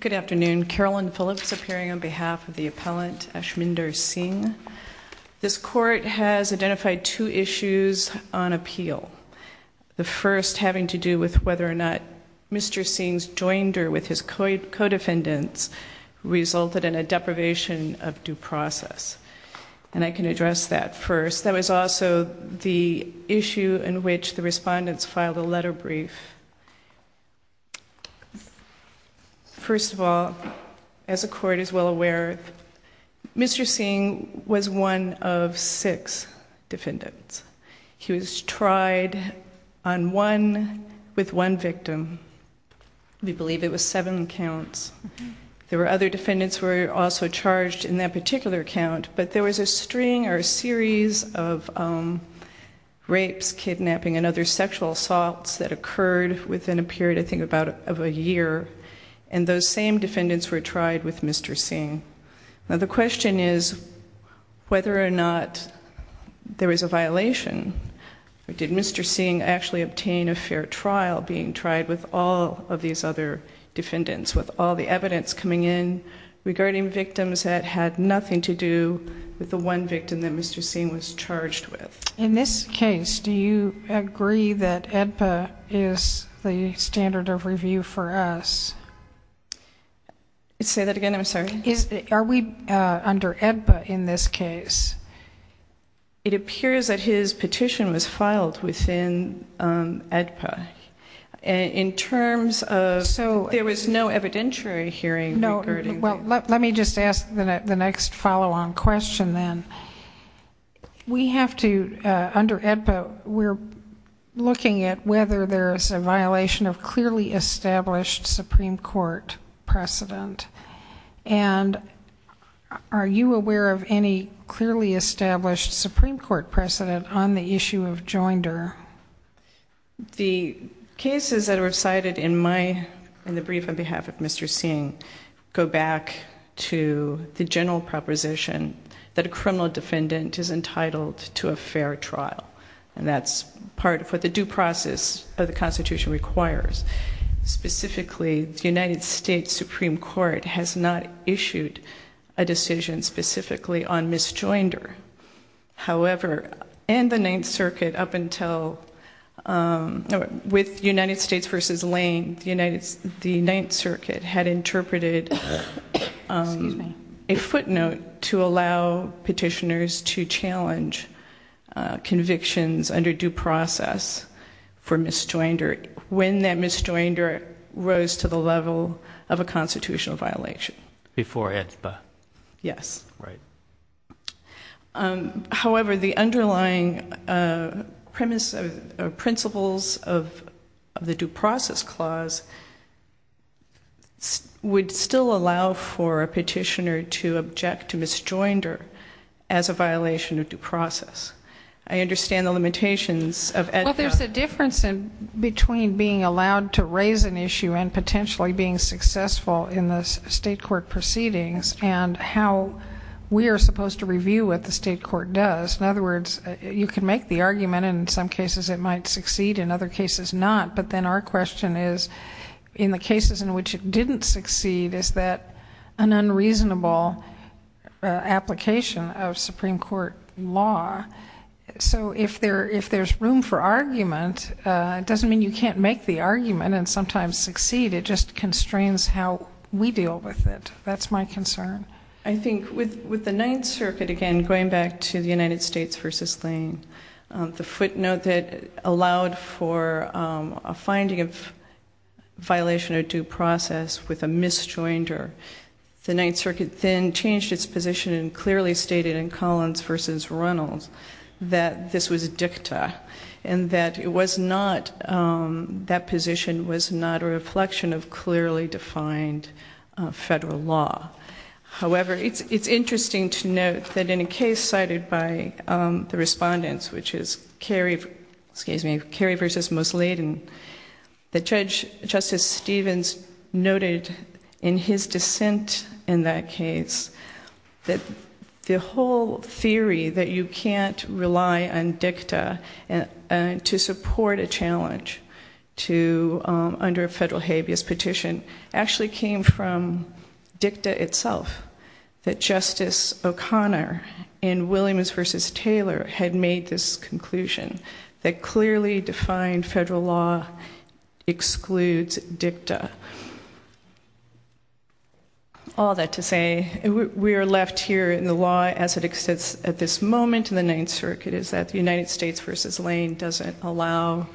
Good afternoon. Carolyn Phillips appearing on behalf of the appellant Ashmindar Singh. This court has identified two issues on appeal. The first having to do with whether or not Mr. Singh's joinder with his co-defendants resulted in a deprivation of due process. And I can address that first. That was also the issue in which the respondents filed a letter brief. First of all, as the court is well aware, Mr. Singh was one of six defendants. He was tried on one with one victim. We believe it was seven counts. There were other defendants who were also charged in that particular count, but there was a string or a series of rapes, kidnapping, and other sexual assaults that occurred within a period, I think, of about a year, and those same defendants were tried with Mr. Singh. Now the question is whether or not there was a violation. Did Mr. Singh actually obtain a fair trial being tried with all of these other defendants, with all the evidence coming in regarding victims that had nothing to do with the one victim that Mr. Singh was charged with? In this case, do you agree that AEDPA is the standard of review for us? Say that again, I'm sorry. Are we under AEDPA in this case? It appears that his petition was filed within AEDPA. In terms of... So there was no evidentiary hearing regarding... Well, let me just ask the next follow-on question then. We have to, under AEDPA, we're looking at whether there is a violation of clearly established Supreme Court precedent. And are you aware of any clearly established Supreme Court precedent on the issue of joinder? The cases that are cited in the brief on behalf of Mr. Singh go back to the general proposition that a criminal defendant is entitled to a fair trial, and that's part of what the due process of the Constitution requires. Specifically, the United States Supreme Court has not issued a decision specifically on misjoinder. However, in the Ninth Circuit up until... With United States v. Lane, the Ninth Circuit had interpreted a footnote to allow petitioners to challenge convictions under due process for misjoinder. When that misjoinder rose to the level of a constitutional violation. Before AEDPA. Yes. Right. However, the underlying premise or principles of the due process clause would still allow for a petitioner to object to misjoinder as a violation of due process. I understand the limitations of AEDPA. Well, there's a difference between being allowed to raise an issue and potentially being successful in the state court proceedings and how we are supposed to review what the state court does. In other words, you can make the argument in some cases it might succeed, in other cases not. But then our question is, in the cases in which it didn't succeed, is that an unreasonable application of Supreme Court law? So if there's room for argument, it doesn't mean you can't make the argument and sometimes succeed. It just constrains how we deal with it. That's my concern. I think with the Ninth Circuit, again, going back to the United States v. Lane, the footnote that allowed for a finding of violation of due process with a misjoinder. The Ninth Circuit then changed its position and clearly stated in Collins v. Reynolds that this was a dicta and that it was not, that position was not a reflection of clearly defined federal law. However, it's interesting to note that in a case cited by the respondents, which is Carey v. Mosleyden, that Judge Justice Stevens noted in his dissent in that case that the whole theory that you can't rely on dicta to support a challenge under a federal habeas petition actually came from dicta itself, that Justice O'Connor in Williams v. Taylor had made this conclusion, that clearly defined federal law excludes dicta. All that to say, we are left here in the law as it exists at this moment in the Ninth Circuit, is that the United States v. Lane doesn't allow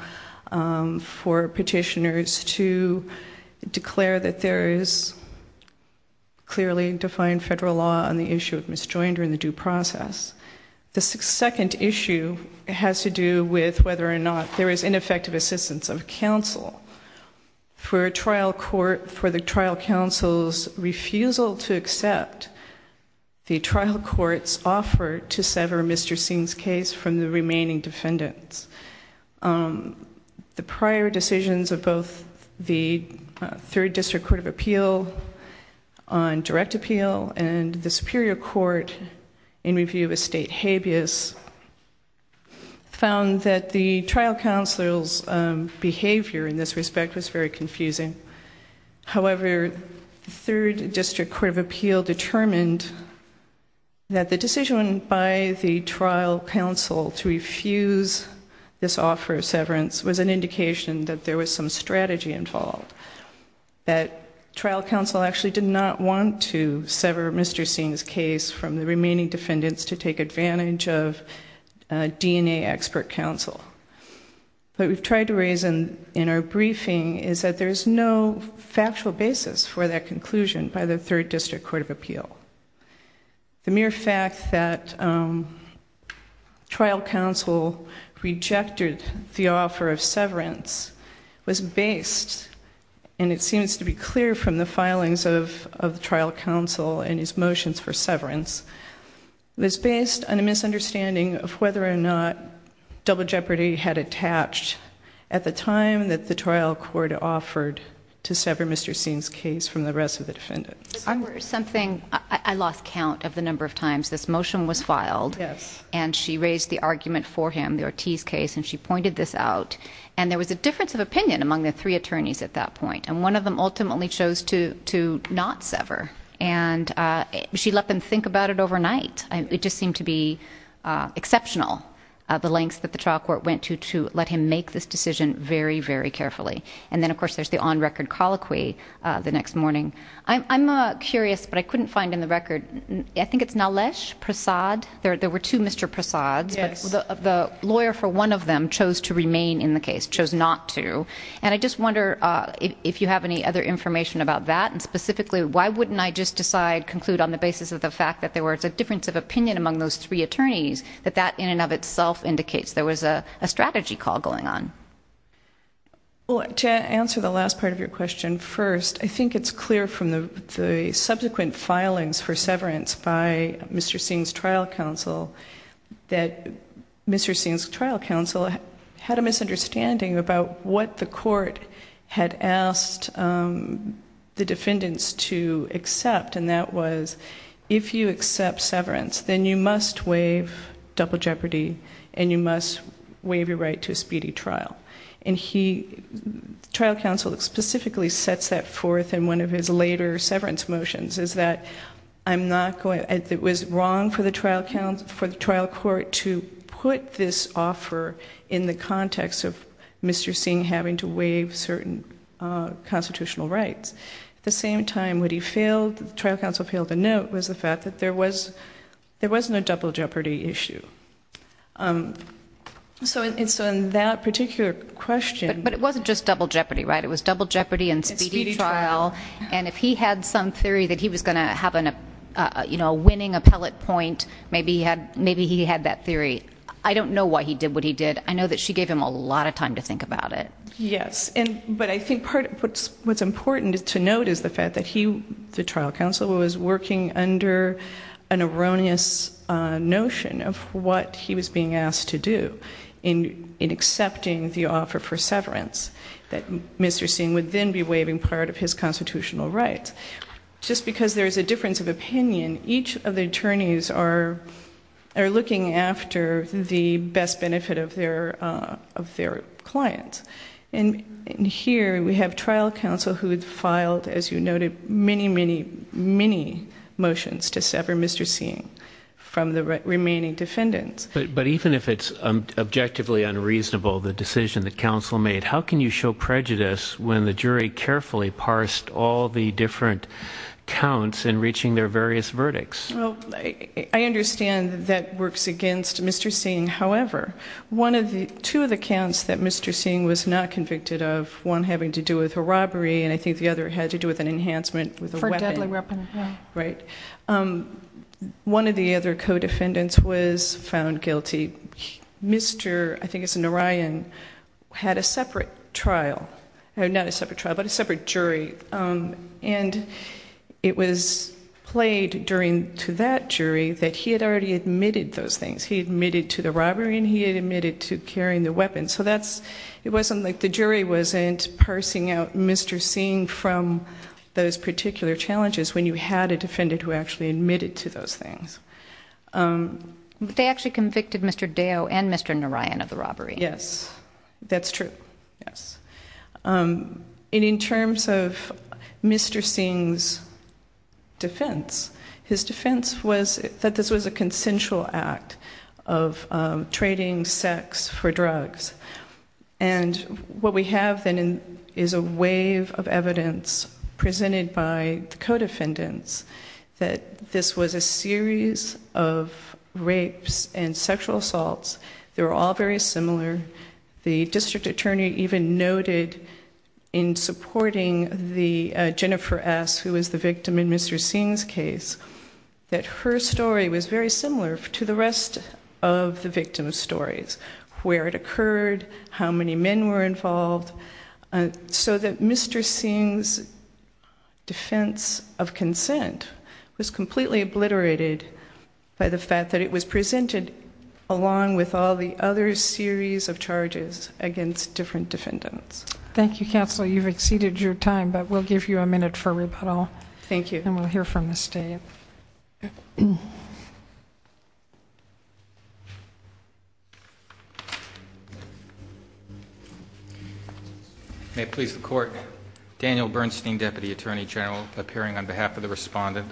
for petitioners to declare that there is clearly defined federal law on the issue of misjoinder in the due process. The second issue has to do with whether or not there is ineffective assistance of counsel. For a trial court, for the trial counsel's refusal to accept the trial court's offer to sever Mr. Singh's case from the remaining defendants. The prior decisions of both the Third District Court of Appeal on direct appeal and the Superior Court in review of a state habeas found that the trial counsel's behavior in this respect was very confusing. However, the Third District Court of Appeal determined that the decision by the trial counsel to refuse this offer of severance was an indication that there was some strategy involved. That trial counsel actually did not want to sever Mr. Singh's case from the remaining defendants to take advantage of DNA expert counsel. What we've tried to raise in our briefing is that there's no factual basis for that conclusion by the Third District Court of Appeal. The mere fact that trial counsel rejected the offer of severance was based, and it seems to be clear from the filings of the trial counsel and his motions for severance, was based on a misunderstanding of whether or not double jeopardy had attached at the time that the trial court offered to sever Mr. Singh's case from the rest of the defendants. There's something, I lost count of the number of times this motion was filed. Yes. And she raised the argument for him, the Ortiz case, and she pointed this out. And there was a difference of opinion among the three attorneys at that point. And one of them ultimately chose to not sever. And she let them think about it overnight. It just seemed to be exceptional, the lengths that the trial court went to, to let him make this decision very, very carefully. And then, of course, there's the on record colloquy the next morning. I'm curious, but I couldn't find in the record, I think it's Nalesh Prasad, there were two Mr. Prasads. Yes. The lawyer for one of them chose to remain in the case, chose not to. And I just wonder if you have any other information about that, and specifically, why wouldn't I just decide, conclude on the basis of the fact that there was a difference of opinion among those three attorneys, that that in and of itself indicates there was a strategy call going on? Well, to answer the last part of your question first, I think it's clear from the subsequent filings for severance by Mr. Singh's trial counsel, that Mr. Singh's trial counsel had a misunderstanding about what the court had asked the defendants to accept. And that was, if you accept severance, then you must waive double jeopardy, and you must waive your right to a speedy trial. And he, trial counsel specifically sets that forth in one of his later severance motions, is that it was wrong for the trial court to put this offer in the context of Mr. Singh having to waive certain constitutional rights. At the same time, what he failed, trial counsel failed to note, was the fact that there was no double jeopardy issue. So in that particular question- But it wasn't just double jeopardy, right? It was double jeopardy and speedy trial. And if he had some theory that he was going to have a winning appellate point, maybe he had that theory. I don't know why he did what he did. I know that she gave him a lot of time to think about it. Yes, but I think what's important to note is the fact that he, the trial counsel, was working under an erroneous notion of what he was being asked to do. In accepting the offer for severance, that Mr. Singh would then be waiving part of his constitutional rights. Just because there's a difference of opinion, each of the attorneys are looking after the best benefit of their clients. And here we have trial counsel who had filed, as you noted, many, many, many motions to sever Mr. Singh from the remaining defendants. But even if it's objectively unreasonable, the decision the counsel made, how can you show prejudice when the jury carefully parsed all the different counts in reaching their various verdicts? Well, I understand that works against Mr. Singh. However, two of the counts that Mr. Singh was not convicted of, one having to do with a robbery, and I think the other had to do with an enhancement with a weapon. For a deadly weapon, yeah. Right. One of the other co-defendants was found guilty. Mr., I think it's Narayan, had a separate trial, not a separate trial, but a separate jury. And it was played during, to that jury, that he had already admitted those things. He admitted to the robbery and he had admitted to carrying the weapon. So that's, it wasn't like the jury wasn't parsing out Mr. Singh from those particular challenges when you had a defendant who actually admitted to those things. But they actually convicted Mr. Deo and Mr. Narayan of the robbery. Yes, that's true, yes. And in terms of Mr. Singh's defense, his defense was that this was a consensual act of trading sex for drugs. And what we have then is a wave of evidence presented by the co-defendants that this was a series of rapes and sexual assaults. They were all very similar. The district attorney even noted in supporting the, Jennifer S, who was the victim in Mr. Singh's case, that her story was very similar to the rest of the victim's stories. Where it occurred, how many men were involved, so that Mr. Singh's defense of consent was completely obliterated by the fact that it was presented along with all the other series of charges against different defendants. Thank you, Counselor. You've exceeded your time, but we'll give you a minute for rebuttal. Thank you. And we'll hear from the state. May it please the court. Daniel Bernstein, Deputy Attorney General, appearing on behalf of the respondent.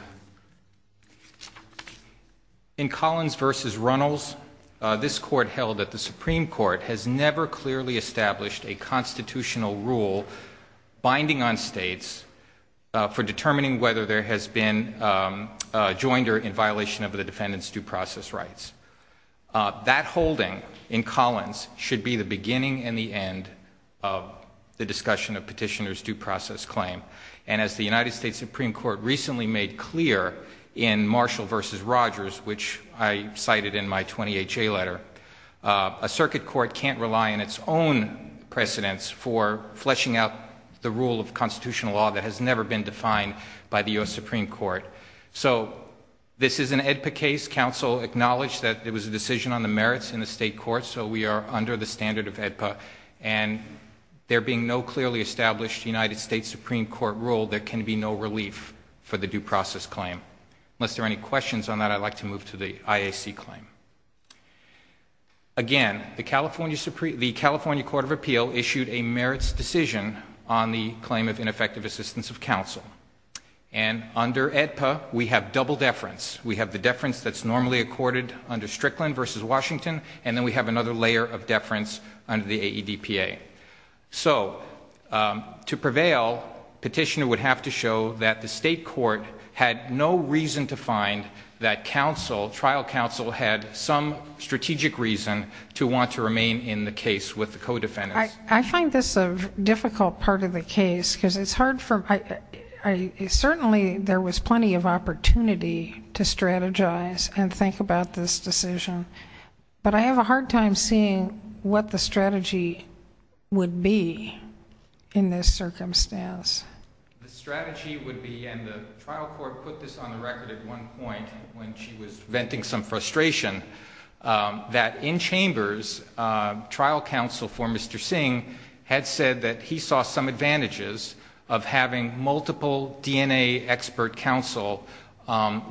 In Collins versus Runnels, this court held that the Supreme Court has never clearly established a constitutional rule binding on states for determining whether there has been a joinder in violation of the defendant's due process rights. That holding in Collins should be the beginning and the end of the discussion of petitioner's due process claim. And as the United States Supreme Court recently made clear in Marshall versus Rogers, which I cited in my 28-J letter, a circuit court can't rely on its own precedence for fleshing out the rule of constitutional law that has never been defined by the US Supreme Court. So this is an AEDPA case. Counsel acknowledged that there was a decision on the merits in the state court, so we are under the standard of AEDPA. And there being no clearly established United States Supreme Court rule, there can be no relief for the due process claim. Unless there are any questions on that, I'd like to move to the IAC claim. Again, the California Court of Appeal issued a merits decision on the claim of ineffective assistance of counsel. And under AEDPA, we have double deference. We have the deference that's normally accorded under Strickland versus Washington, and then we have another layer of deference under the AEDPA. So, to prevail, petitioner would have to show that the state court had no reason to find that trial counsel had some strategic reason to want to remain in the case with the co-defendants. I find this a difficult part of the case, because it's hard for, certainly there was plenty of opportunity to strategize and think about this decision. But I have a hard time seeing what the strategy would be in this circumstance. The strategy would be, and the trial court put this on the record at one point when she was venting some frustration. That in chambers, trial counsel for Mr. Singh had said that he saw some advantages of having multiple DNA expert counsel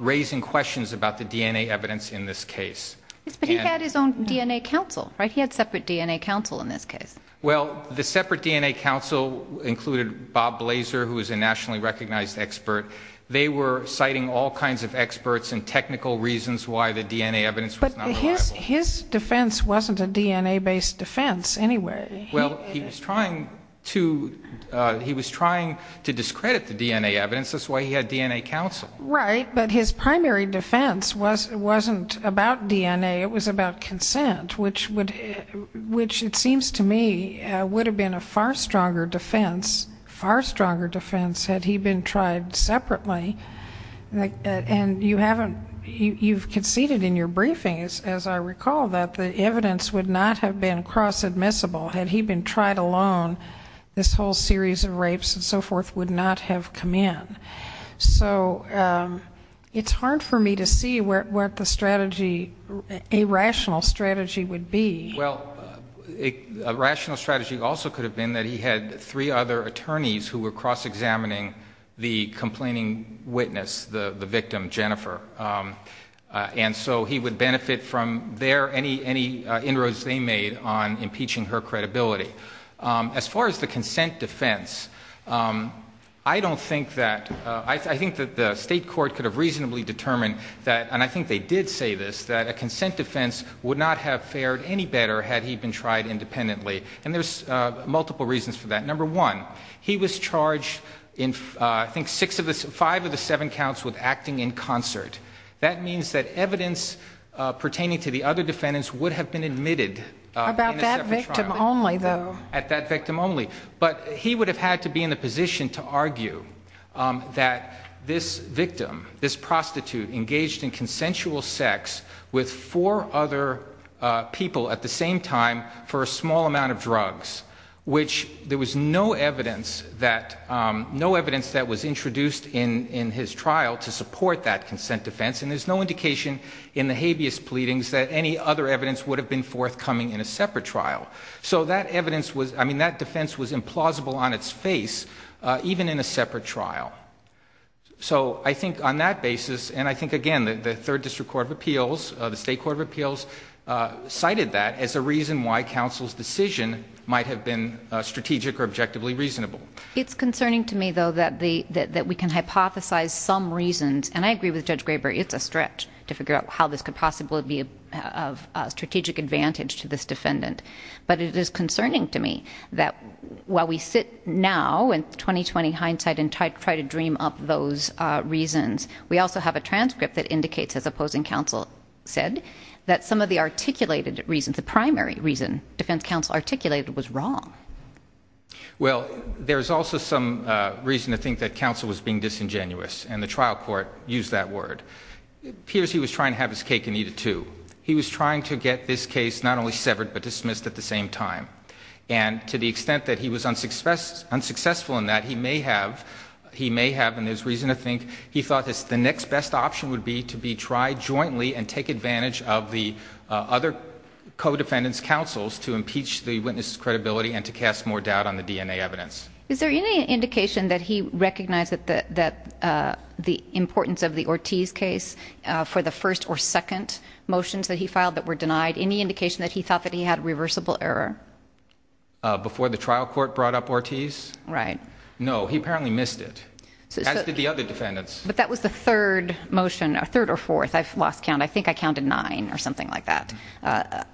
raising questions about the DNA evidence in this case. Yes, but he had his own DNA counsel, right? He had separate DNA counsel in this case. Well, the separate DNA counsel included Bob Blazer, who is a nationally recognized expert. They were citing all kinds of experts and technical reasons why the DNA evidence was not reliable. But his defense wasn't a DNA based defense, anyway. Well, he was trying to discredit the DNA evidence, that's why he had DNA counsel. Right, but his primary defense wasn't about DNA, it was about consent, which it seems to me would have been a far stronger defense. Far stronger defense had he been tried separately. And you've conceded in your briefing, as I recall, that the evidence would not have been cross admissible. Had he been tried alone, this whole series of rapes and so forth would not have come in. So it's hard for me to see what the strategy, a rational strategy would be. Well, a rational strategy also could have been that he had three other attorneys who were cross-examining the complaining witness, the victim, Jennifer. And so he would benefit from their, any inroads they made on impeaching her credibility. As far as the consent defense, I don't think that, I think that the state court could have reasonably determined that, and I think they did say this, that a consent defense would not have fared any better had he been tried independently. And there's multiple reasons for that. Number one, he was charged in, I think, five of the seven counts with acting in concert. That means that evidence pertaining to the other defendants would have been admitted. About that victim only, though. At that victim only. But he would have had to be in the position to argue that this victim, this prostitute engaged in consensual sex with four other people at the same time for a small amount of drugs, which there was no evidence that, no evidence that was introduced in his trial to support that consent defense. And there's no indication in the habeas pleadings that any other evidence would have been forthcoming in a separate trial. So that evidence was, I mean, that defense was implausible on its face, even in a separate trial. So I think on that basis, and I think again, the third district court of appeals, the state court of appeals, cited that as a reason why counsel's decision might have been strategic or objectively reasonable. It's concerning to me, though, that we can hypothesize some reasons, and I agree with Judge Graber, it's a stretch to figure out how this could possibly be of strategic advantage to this defendant. But it is concerning to me that while we sit now in 2020 hindsight and try to dream up those reasons, we also have a transcript that indicates, as opposing counsel said, that some of the articulated reasons, the primary reason defense counsel articulated was wrong. Well, there's also some reason to think that counsel was being disingenuous, and the trial court used that word. It appears he was trying to have his cake and eat it too. He was trying to get this case not only severed, but dismissed at the same time. And to the extent that he was unsuccessful in that, he may have, and there's reason to think, he thought the next best option would be to be tried jointly and take advantage of the other co-defendants' counsels to impeach the witness' credibility and to cast more doubt on the DNA evidence. Is there any indication that he recognized that the importance of the Ortiz case for the first or second motions that he filed that were denied, any indication that he thought that he had reversible error? Before the trial court brought up Ortiz? Right. No, he apparently missed it. As did the other defendants. But that was the third motion, or third or fourth, I've lost count. I think I counted nine, or something like that.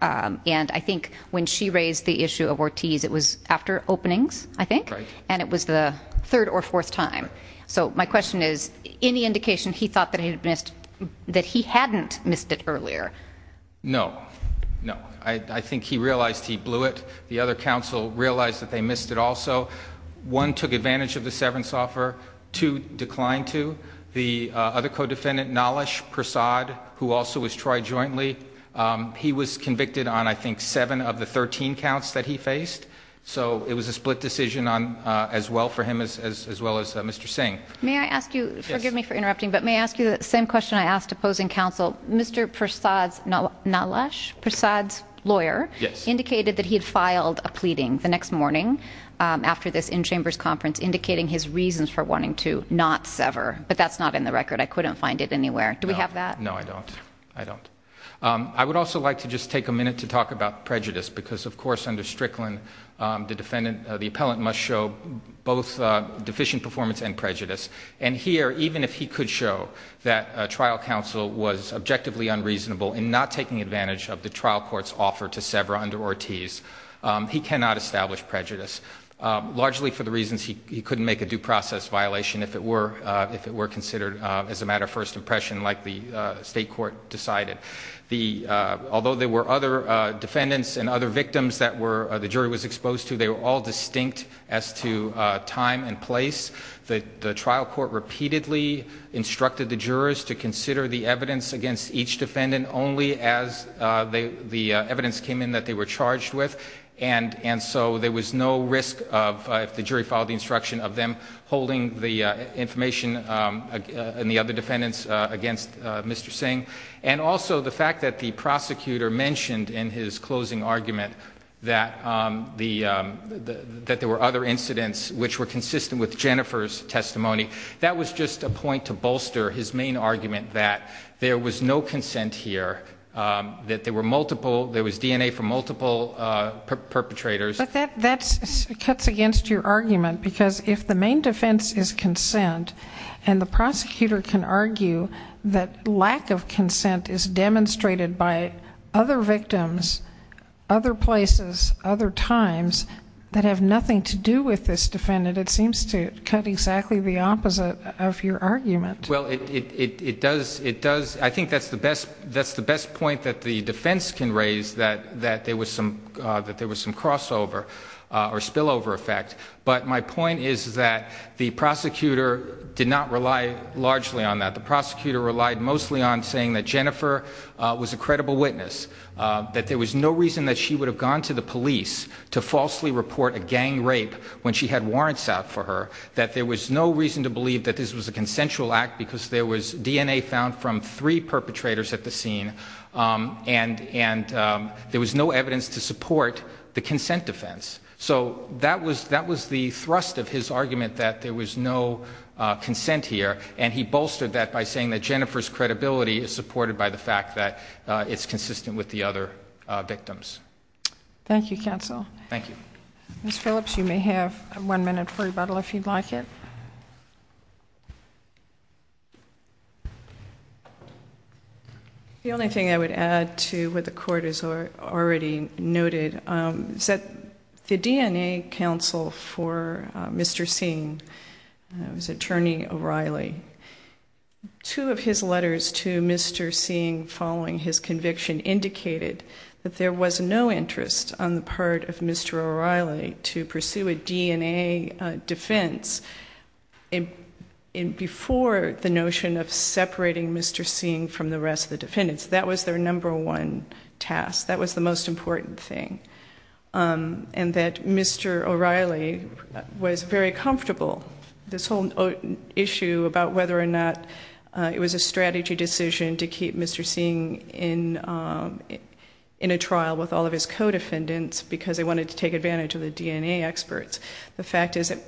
And I think when she raised the issue of Ortiz, it was after openings, I think? Right. And it was the third or fourth time. So my question is, any indication he thought that he hadn't missed it earlier? No, no. I think he realized he blew it. The other counsel realized that they missed it also. One took advantage of the severance offer, two declined to. The other co-defendant, Nalesh Prasad, who also was tried jointly, he was convicted on, I think, seven of the 13 counts that he faced. So it was a split decision on, as well for him as well as Mr. Singh. May I ask you, forgive me for interrupting, but may I ask you the same question I asked opposing counsel. Mr. Prasad's lawyer indicated that he had filed a pleading the next morning after this in-chambers conference, indicating his reasons for wanting to not sever. But that's not in the record. I couldn't find it anywhere. Do we have that? No, I don't. I don't. I would also like to just take a minute to talk about prejudice. Because, of course, under Strickland, the defendant, the appellant, must show both deficient performance and prejudice. And here, even if he could show that trial counsel was objectively unreasonable in not taking advantage of the trial court's offer to sever under Ortiz, he cannot establish prejudice, largely for the reasons he couldn't make a due process violation if it were considered as a matter of first impression, like the state court decided. Although there were other defendants and other victims that the jury was exposed to, they were all distinct as to time and place. The trial court repeatedly instructed the jurors to consider the evidence against each defendant only as the evidence came in that they were charged with. And so there was no risk of, if the jury followed the instruction of them, holding the information and the other defendants against Mr. Singh. And also, the fact that the prosecutor mentioned in his closing argument that there were other incidents which were consistent with Jennifer's testimony, that was just a point to bolster his main argument that there was no consent here, that there was DNA from multiple perpetrators. But that cuts against your argument because if the main defense is consent and the prosecutor can argue that lack of consent is demonstrated by other victims, other places, other times, that have nothing to do with this defendant, it seems to cut exactly the opposite of your argument. Well, I think that's the best point that the defense can raise, that there was some crossover or spillover effect. But my point is that the prosecutor did not rely largely on that. The prosecutor relied mostly on saying that Jennifer was a credible witness, that there was no reason that she would have gone to the police to falsely report a gang rape when she had warrants out for her, that there was no reason to believe that this was a consensual act because there was DNA found from three perpetrators at the scene and there was no evidence to support the consent defense. So that was the thrust of his argument, that there was no consent here. And he bolstered that by saying that Jennifer's credibility is supported by the fact that it's consistent with the other victims. Thank you, counsel. Thank you. Ms. Phillips, you may have one minute for rebuttal if you'd like it. The only thing I would add to what the court has already noted is that the DNA counsel for Mr. Singh, his attorney O'Reilly, two of his letters to Mr. Singh following his conviction indicated that there was no interest on the part of Mr. O'Reilly to pursue a DNA defense before the notion of separating Mr. Singh from the rest of the defendants. That was their number one task. That was the most important thing. And that Mr. O'Reilly was very comfortable, this whole issue about whether or not it was a strategy decision to keep Mr. Singh in a trial with all of his co-defendants because they wanted to take advantage of the DNA experts. The fact is that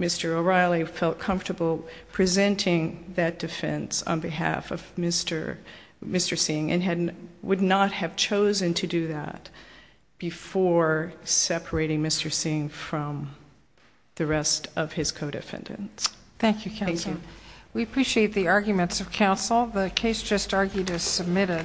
Mr. O'Reilly felt comfortable presenting that defense on behalf of Mr. Singh and would not have chosen to do that before separating Mr. Singh from the rest of his co-defendants. We appreciate the arguments of counsel. The case just argued is submitted.